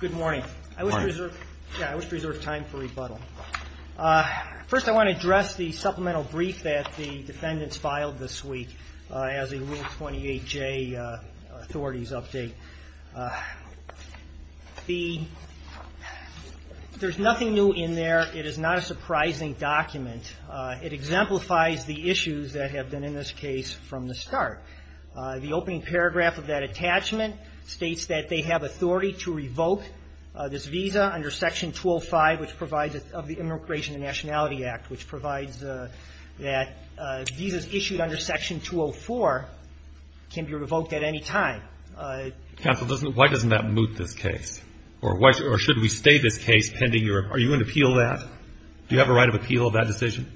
Good morning. I wish to reserve time for rebuttal. First, I want to address the supplemental brief that the defendants filed this week as a Rule 28J authorities update. There's nothing new in there. It is not a surprising document. It exemplifies the issues that have been in this case from the start. The opening paragraph of that attachment states that they have authority to revoke this visa under Section 205 of the Immigration and Nationality Act, which provides that visas issued under Section 204 can be revoked at any time. Counsel, why doesn't that moot this case? Or should we stay this case pending your – are you going to appeal that? Do you have a right of appeal of that decision?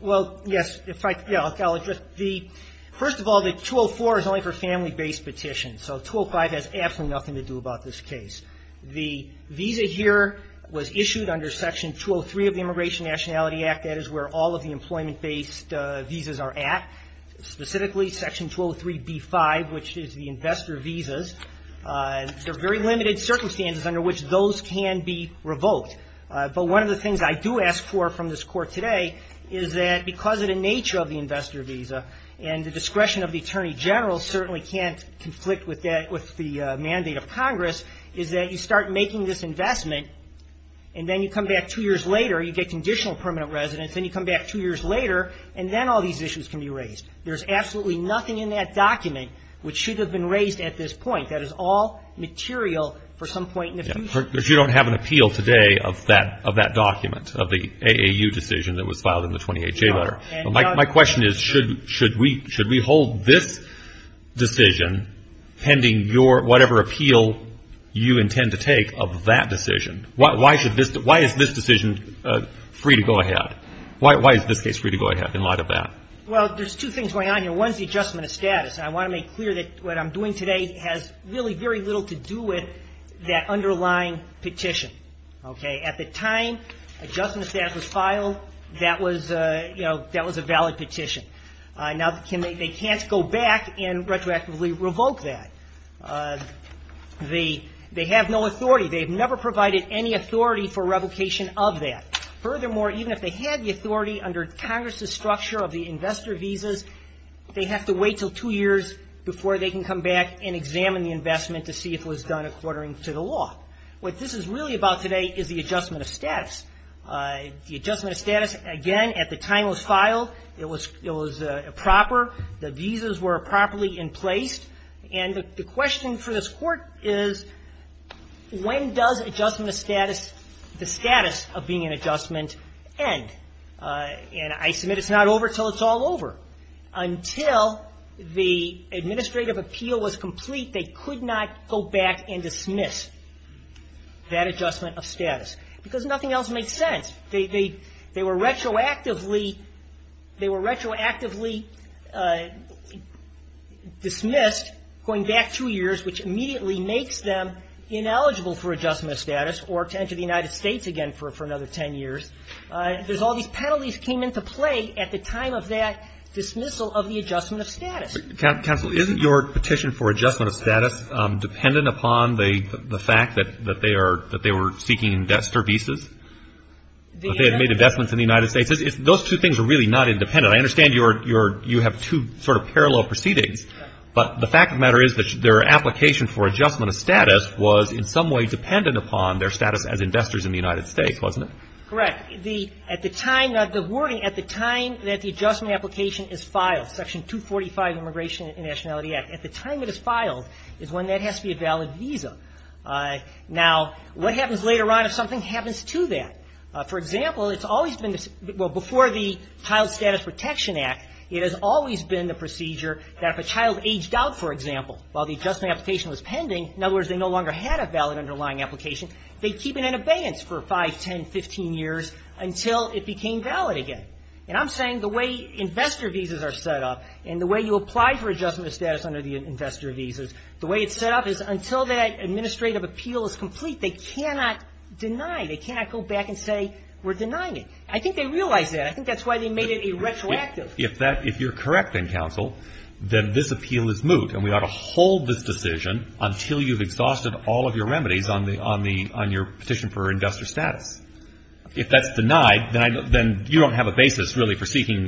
Well, yes. In fact, I'll address the – first of all, the 204 is only for family-based petitions. So 205 has absolutely nothing to do about this case. The visa here was issued under Section 203 of the Immigration and Nationality Act. That is where all of the employment-based visas are at. Specifically, Section 203b-5, which is the investor visas. There are very limited circumstances under which those can be revoked. But one of the things I do ask for from this Court today is that because of the nature of the investor visa, and the discretion of the Attorney General certainly can't conflict with that – with the mandate of Congress, is that you start making this investment, and then you come back two years later, you get conditional permanent residence, then you come back two years later, and then all these issues can be raised. There's absolutely nothing in that document which should have been raised at this point. That is all material for some point in the future. Because you don't have an appeal today of that – of that document, of the AAU decision that was filed in the 28J letter. No. My question is, should – should we – should we hold this decision pending your – whatever appeal you intend to take of that decision? Why should this – why is this decision free to go ahead? Why is this case free to go ahead in light of that? Well, there's two things going on here. One is the adjustment of status. I want to make clear that what I'm doing today has really very little to do with that underlying petition. Okay? At the time adjustment of status was filed, that was – you know, that was a valid petition. Now, can – they can't go back and retroactively revoke that. The – they have no authority. They've never provided any authority for revocation of that. Furthermore, even if they had the authority under Congress's structure of the investor visas, they have to wait until two years before they can come back and examine the investment to see if it was done according to the law. What this is really about today is the adjustment of status. The adjustment of status, again, at the time it was filed, it was – it was proper. The visas were properly in place. And the question for this Court is, when does adjustment of status – the status of being an adjustment end? And I submit it's not over until it's all over. Until the administrative appeal was complete, they could not go back and dismiss that adjustment of status because nothing else makes sense. They were retroactively – they were retroactively dismissed going back two years, which immediately makes them ineligible for adjustment of status or to enter the United States again for another ten years. There's all these penalties came into play at the time of that dismissal of the adjustment of status. Counsel, isn't your petition for adjustment of status dependent upon the fact that they are – that they were seeking investor visas? The investment That they had made investments in the United States. Those two things are really not independent. I understand you're – you have two sort of parallel proceedings, but the fact of the matter is that their application for adjustment of status was in some way dependent upon their status as investors in the United States, wasn't it? Correct. The – at the time – the wording at the time that the adjustment of application is filed, Section 245 of the Immigration and Nationality Act, at the time it is filed is when that has to be a valid visa. Now, what happens later on if something happens to that? For example, it's always been – well, before the Child Status Protection Act, it has always been the procedure that if a child aged out, for example, while the adjustment application was pending, in other words, they no longer had a valid underlying application, they keep it in abeyance for five, ten, fifteen years until it became valid again. And I'm saying the way investor visas are set up and the way you apply for adjustment of status under the investor visas, the way it's set up is until that administrative appeal is complete, they cannot deny. They cannot go back and say, we're denying it. I think they realize that. I think that's why they made it a retroactive. If that – if you're correct then, counsel, then this appeal is moot and we ought to hold this decision until you've exhausted all of your remedies on the – on the – on your petition for investor status. If that's denied, then I – then you don't have a pending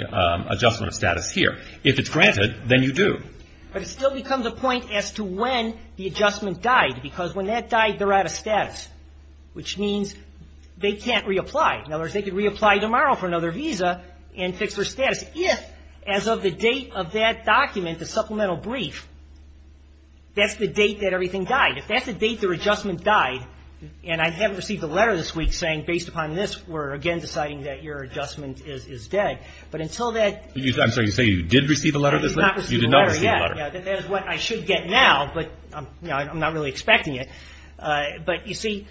adjustment of status here. If it's granted, then you do. But it still becomes a point as to when the adjustment died, because when that died, they're out of status, which means they can't reapply. In other words, they could reapply tomorrow for another visa and fix their status if, as of the date of that document, the supplemental brief, that's the date that everything died. If that's the date their adjustment died and I haven't received a letter this week saying, based upon this, we're again deciding that your adjustment is dead, but until that – I'm sorry, you say you did receive a letter this week? I did not receive a letter, yeah. You did not receive a letter. Yeah, that is what I should get now, but I'm not really expecting it. But you see,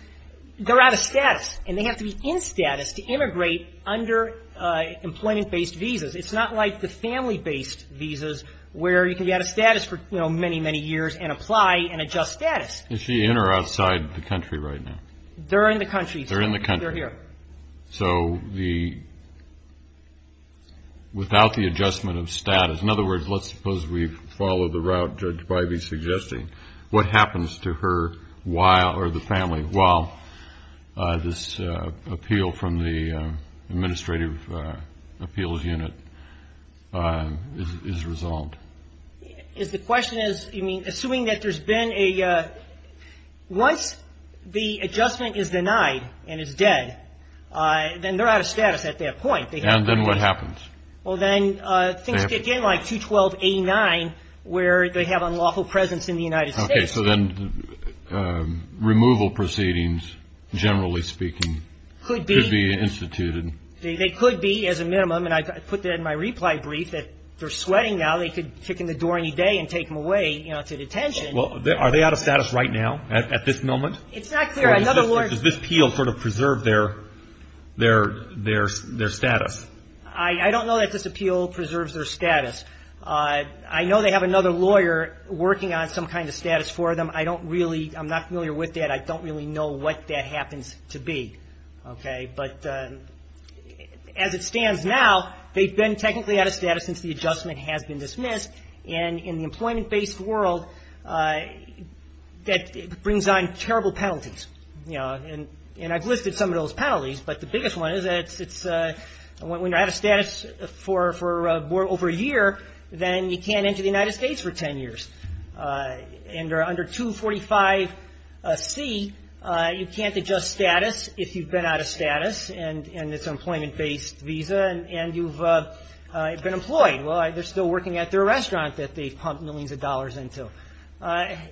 they're out of status and they have to be in status to immigrate under employment-based visas. It's not like the family-based visas where you can be out of status for many, many years and apply and adjust status. Is she in or outside the country right now? They're in the country. They're in the country. They're here. So the – without the adjustment of status – in other words, let's suppose we follow the route Judge Bivey's suggesting, what happens to her while – or the family while this appeal from the Administrative Appeals Unit is resolved? The question is, I mean, assuming that there's been a – once the adjustment is denied and is dead, then they're out of status at that point. And then what happens? Well, then things kick in like 212.89 where they have unlawful presence in the United States. Okay, so then removal proceedings, generally speaking, could be instituted. They could be, as a minimum, and I put that in my reply brief, that they're sweating now, they could kick in the door any day and take them away to detention. Well, are they out of status right now, at this moment? It's not clear. Does this appeal sort of preserve their status? I don't know that this appeal preserves their status. I know they have another lawyer working on some kind of status for them. I don't really – I'm not familiar with that. I don't really know what that happens to be, okay? But as it stands now, they've been technically out of status since the adjustment has been And I've listed some of those penalties, but the biggest one is that when you're out of status for over a year, then you can't enter the United States for 10 years. And under 245C, you can't adjust status if you've been out of status and it's an employment-based visa and you've been employed. Well, they're still working at their restaurant that they've pumped millions of dollars into.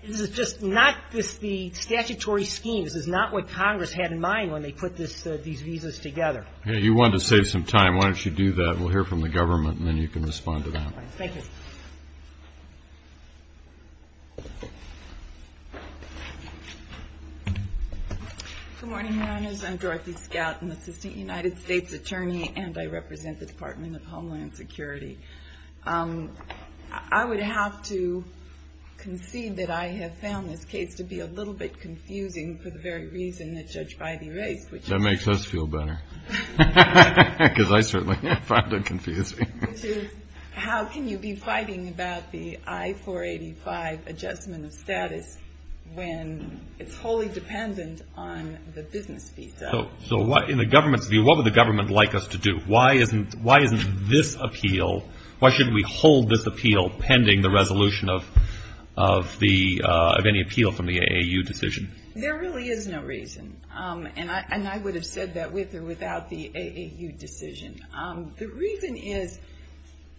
This is just not – this – the statutory scheme, this is not what Congress had in mind when they put this – these visas together. You wanted to save some time. Why don't you do that? We'll hear from the government and then you can respond to that. Thank you. Good morning, Your Honors. I'm Dorothy Scout and this is the United States Attorney and I represent the Department of Homeland Security. I would have to concede that I have found this case to be a little bit confusing for the very reason that Judge Bybee raised, which is – That makes us feel better. Because I certainly found it confusing. Which is, how can you be fighting about the I-485 adjustment of status when it's wholly dependent on the business visa? So what – in the government's view, what would the government like us to do? Why isn't this appeal – why shouldn't we hold this appeal pending the resolution of the – of any appeal from the AAU decision? There really is no reason. And I would have said that with or without the AAU decision. The reason is,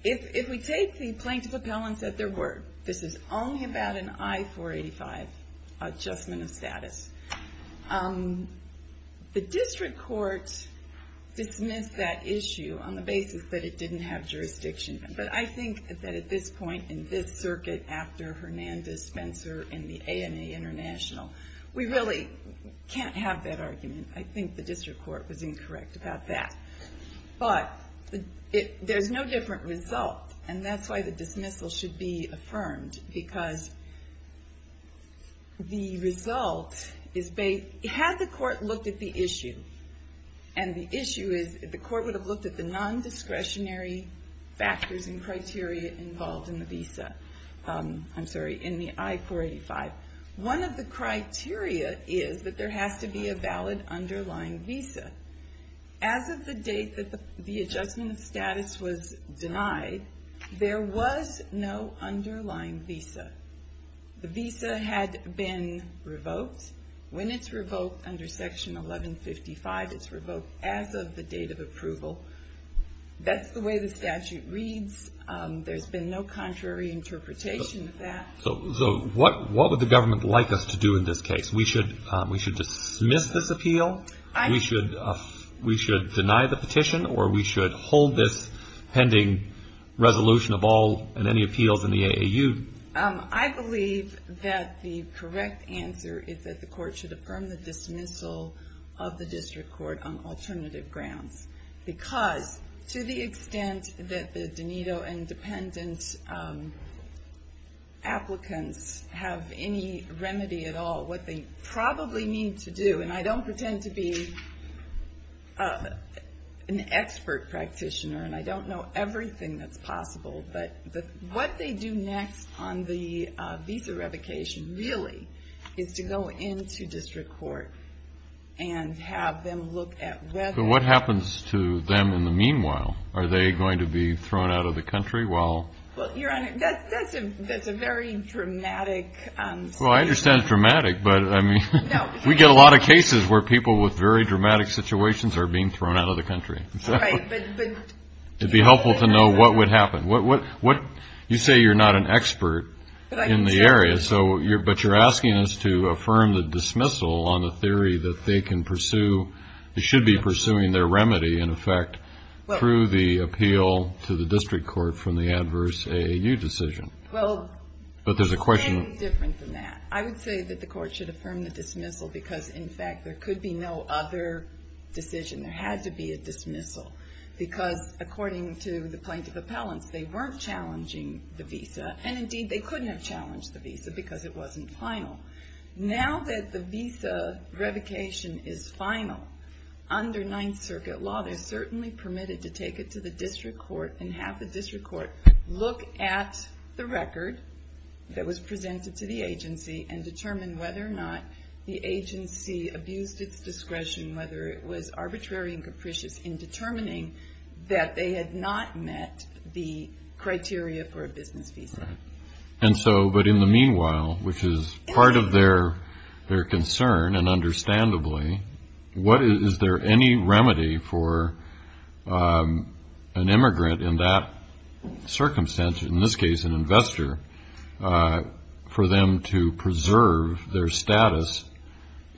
if we take the plaintiff appellants at their word, this is only about an I-485 adjustment of status. The district court dismissed that issue on the basis that it didn't have jurisdiction. But I think that at this point, in this circuit, after Hernandez-Spencer and the ANA International, we really can't have that argument. I think the district court was incorrect about that. But there's no different result. And that's why the dismissal should be affirmed. Because the result is based – had the court looked at the issue, and the issue is – the court would have looked at the non-discretionary factors and criteria involved in the visa – I'm sorry, in the I-485. One of the criteria is that there has to be a valid underlying visa. As of the date that the adjustment of status was denied, there was no underlying visa. The visa had been revoked. When it's revoked under Section 1155, it's revoked as of the date of approval. That's the way the statute reads. There's been no contrary interpretation of that. So what would the government like us to do in this case? We should dismiss this appeal? We should deny the petition? Or we should hold this pending resolution of all and any appeals in the AAU? I believe that the correct answer is that the court should affirm the dismissal of the district court on alternative grounds. Because to the extent that the DNEDA and dependent applicants have any remedy at all, what they probably need to do – and I don't pretend to be an expert practitioner and I don't know everything that's possible – but what they do next on the visa revocation really is to go into district court and have them look at whether – But what happens to them in the meanwhile? Are they going to be thrown out of the country while – Well, Your Honor, that's a very dramatic statement. Well, I understand it's dramatic, but we get a lot of cases where people with very dramatic situations are being thrown out of the country. Right, but – It would be helpful to know what would happen. You say you're not an expert in the area, but you're asking us to affirm the dismissal on the theory that they can pursue – they should be pursuing their remedy, in effect, through the appeal to the district court from the adverse AAU decision. But there's a question – It's very different than that. I would say that the court should affirm the dismissal because, in fact, there could be no other decision. There had to be a dismissal because according to the plaintiff appellants, they weren't challenging the visa and, indeed, they couldn't have challenged the visa because it wasn't final. Now that the visa revocation is final under Ninth Circuit law, they're certainly permitted to take it to the district court and have the district court look at the record that was presented to the agency and determine whether or not the agency abused its discretion, whether it was arbitrary and capricious in determining that they had not met the criteria for a business visa. And so – but in the meanwhile, which is part of their concern and understandably, is there any remedy for an immigrant in that circumstance, in this case an investor, for them to preserve their status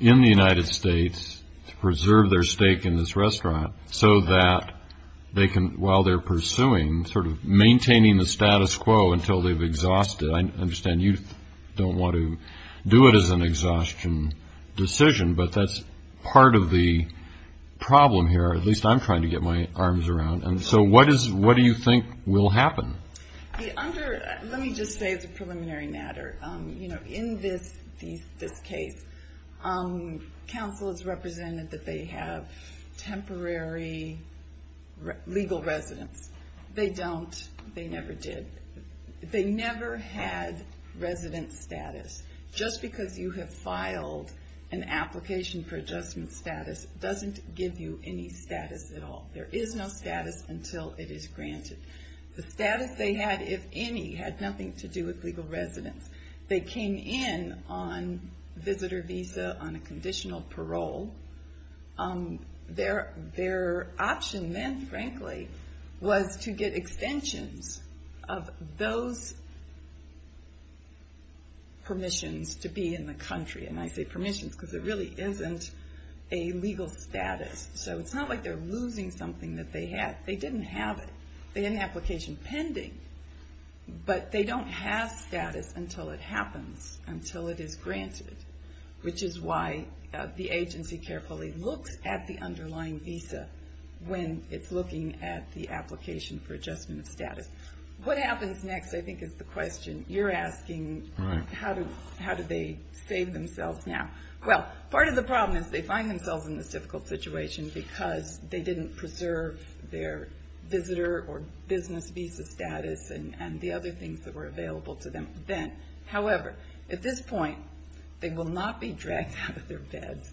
in the United States, to preserve their stake in this restaurant so that they can, while they're pursuing, sort of maintaining the status quo until they've exhausted – I understand you don't want to do it as an exhaustion decision, but that's part of the problem here. At least I'm trying to get my arms around. And so what do you think will happen? Let me just say as a preliminary matter, in this case, counsel has represented that they have temporary legal residence. They don't. They never did. They never had resident status. Just because you have filed an application for adjustment status doesn't give you any status at all. There is no status until it is granted. The status they had, if any, had nothing to do with legal residence. They came in on visitor visa, on a conditional parole. Their option then, frankly, was to get extensions of those permissions to be in the country. And I say permissions because it really isn't a legal status. So it's not like they're losing something that they had. They didn't have it. They had an application pending, but they don't have status until it happens, until it is granted, which is why the agency carefully looks at the underlying visa when it's looking at the application for adjustment of status. What happens next, I think, is the question you're asking. How do they save themselves now? Well, part of the problem is they find themselves in this difficult situation because they didn't preserve their visitor or business visa status and the other things that were available to them then. However, at this point, they will not be dragged out of their beds.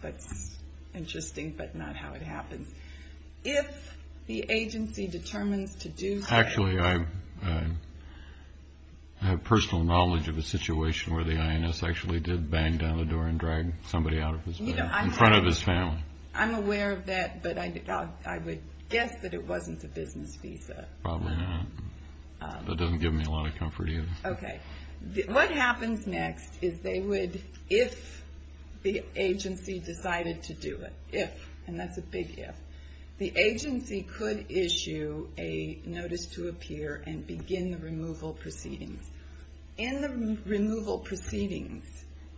That's interesting, but not how it happens. If the agency determines to do that... Actually, I have personal knowledge of a situation where the INS actually did bang down the door and drag somebody out of his bed in front of his family. I'm aware of that, but I would guess that it wasn't a business visa. Probably not. That doesn't give me a lot of comfort either. Okay. What happens next is they would, if the agency decided to do it, if, and that's a big if, the agency could issue a notice to appear and begin the removal proceedings. In the removal proceedings,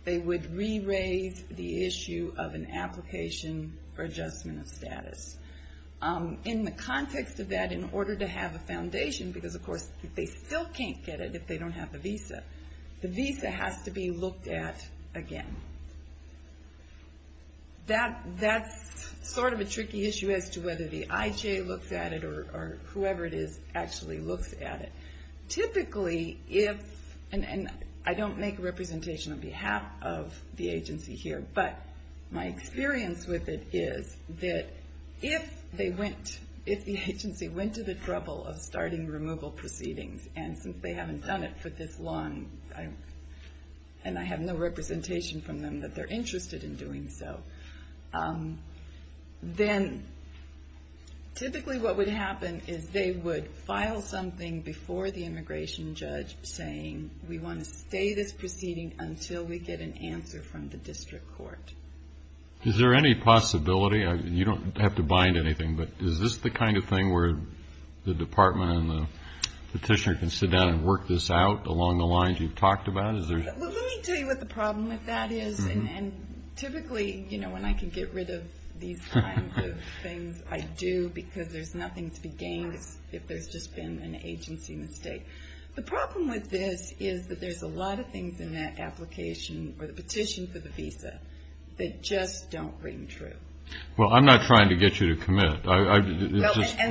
they would re-raise the issue of an application for adjustment of status. In the context of that, in order to have a foundation, because of course they still can't get it if they don't have the visa, the visa has to be looked at again. That's sort of a tricky issue as to whether the IJ looks at it or whoever it is actually looks at it. Typically, if, and I don't make a representation on behalf of the agency here, but my experience with it is that if they went, if the agency went to the trouble of starting removal proceedings and since they haven't done it for this long and I have no representation from them that they're interested in doing so, then typically what would happen is they would file something before the immigration judge saying we want to stay this proceeding until we get an answer from the district court. Is there any possibility, you don't have to bind anything, but is this the kind of thing where the department and the petitioner can sit down and work this out along the lines you've talked about? Let me tell you what the problem with that is and typically, you know, when I can get rid of these kinds of things I do because there's nothing to be gained if there's just been an agency mistake. The problem with this is that there's a lot of things in that application or the petition for the visa that just don't ring true. Well, I'm not trying to get you to commit.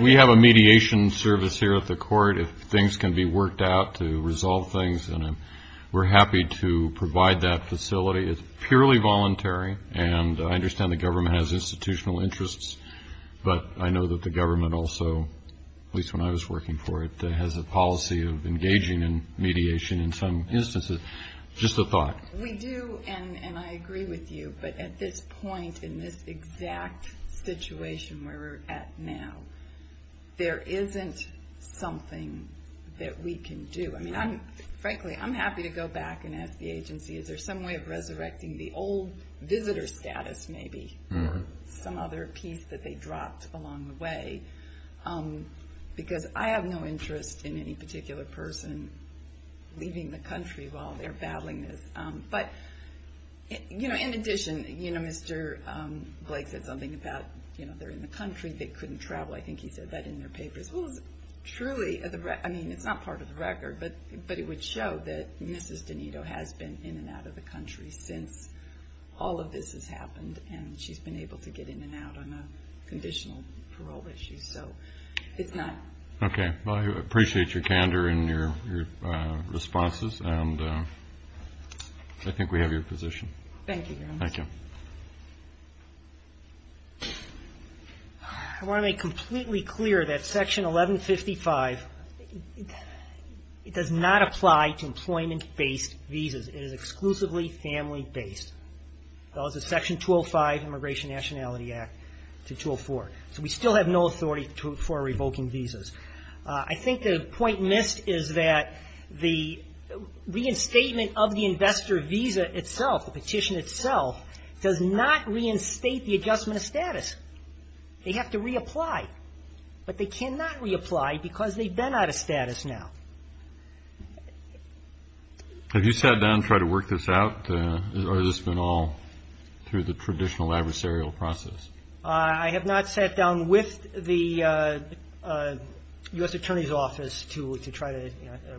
We have a mediation service here at the court if things can be worked out to resolve things and we're happy to provide that facility. It's purely voluntary and I understand the government has institutional interests but I know that the government also, at least when I was working for it, has a policy of engaging in mediation in some instances. Just a thought. We do and I agree with you but at this point in this exact situation where we're at now there isn't something that we can do. Frankly, I'm happy to go back and ask the agency is there some way of resurrecting the old visitor status maybe or some other piece that they dropped along the way because I have no interest in any particular person leaving the country while they're battling this. In addition, Mr. Blake said something about they're in the country and they couldn't travel. I think he said that in their papers. It's not part of the record but it would show that Mrs. Donato has been in and out of the country since all of this has happened and she's been able to get in and out on a conditional parole issue. I appreciate your candor and your responses and I think we have your position. Thank you. I want to make completely clear that Section 1155 does not apply to employment-based visas. It is exclusively family-based. It goes to Section 205 Immigration Nationality Act to 204. So we still have no authority for revoking visas. I think the point missed is that the reinstatement of the investor visa itself the petition itself does not reinstate the adjustment of status. They have to reapply but they cannot reapply because they've been out of status now. Have you sat down and tried to work this out or has this been all through the traditional adversarial process? I have not sat down with the U.S. Attorney's Office to try to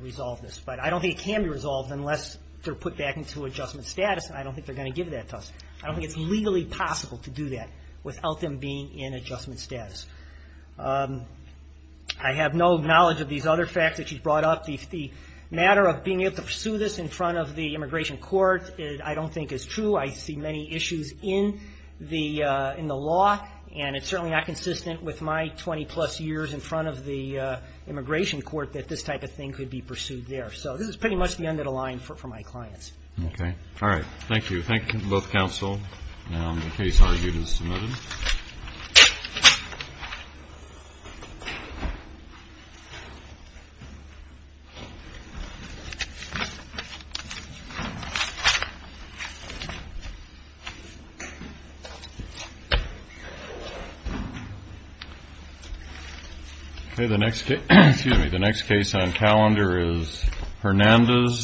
resolve this but I don't think it can be resolved unless they're put back into adjustment status and I don't think they're going to give that to us. I don't think it's legally possible to do that without them being in adjustment status. I have no knowledge of these other facts that you brought up. The matter of being able to pursue this in front of the immigration court I don't think is true. I see many issues in the law and it's certainly not consistent with my 20 plus years in front of the immigration court that this type of thing could be pursued there. So this is pretty much the end of the line for my clients. Okay. All right. Thank you. Thank you both counsel The case argued and submitted. Okay the next case excuse me the next case on calendar is Hernandez.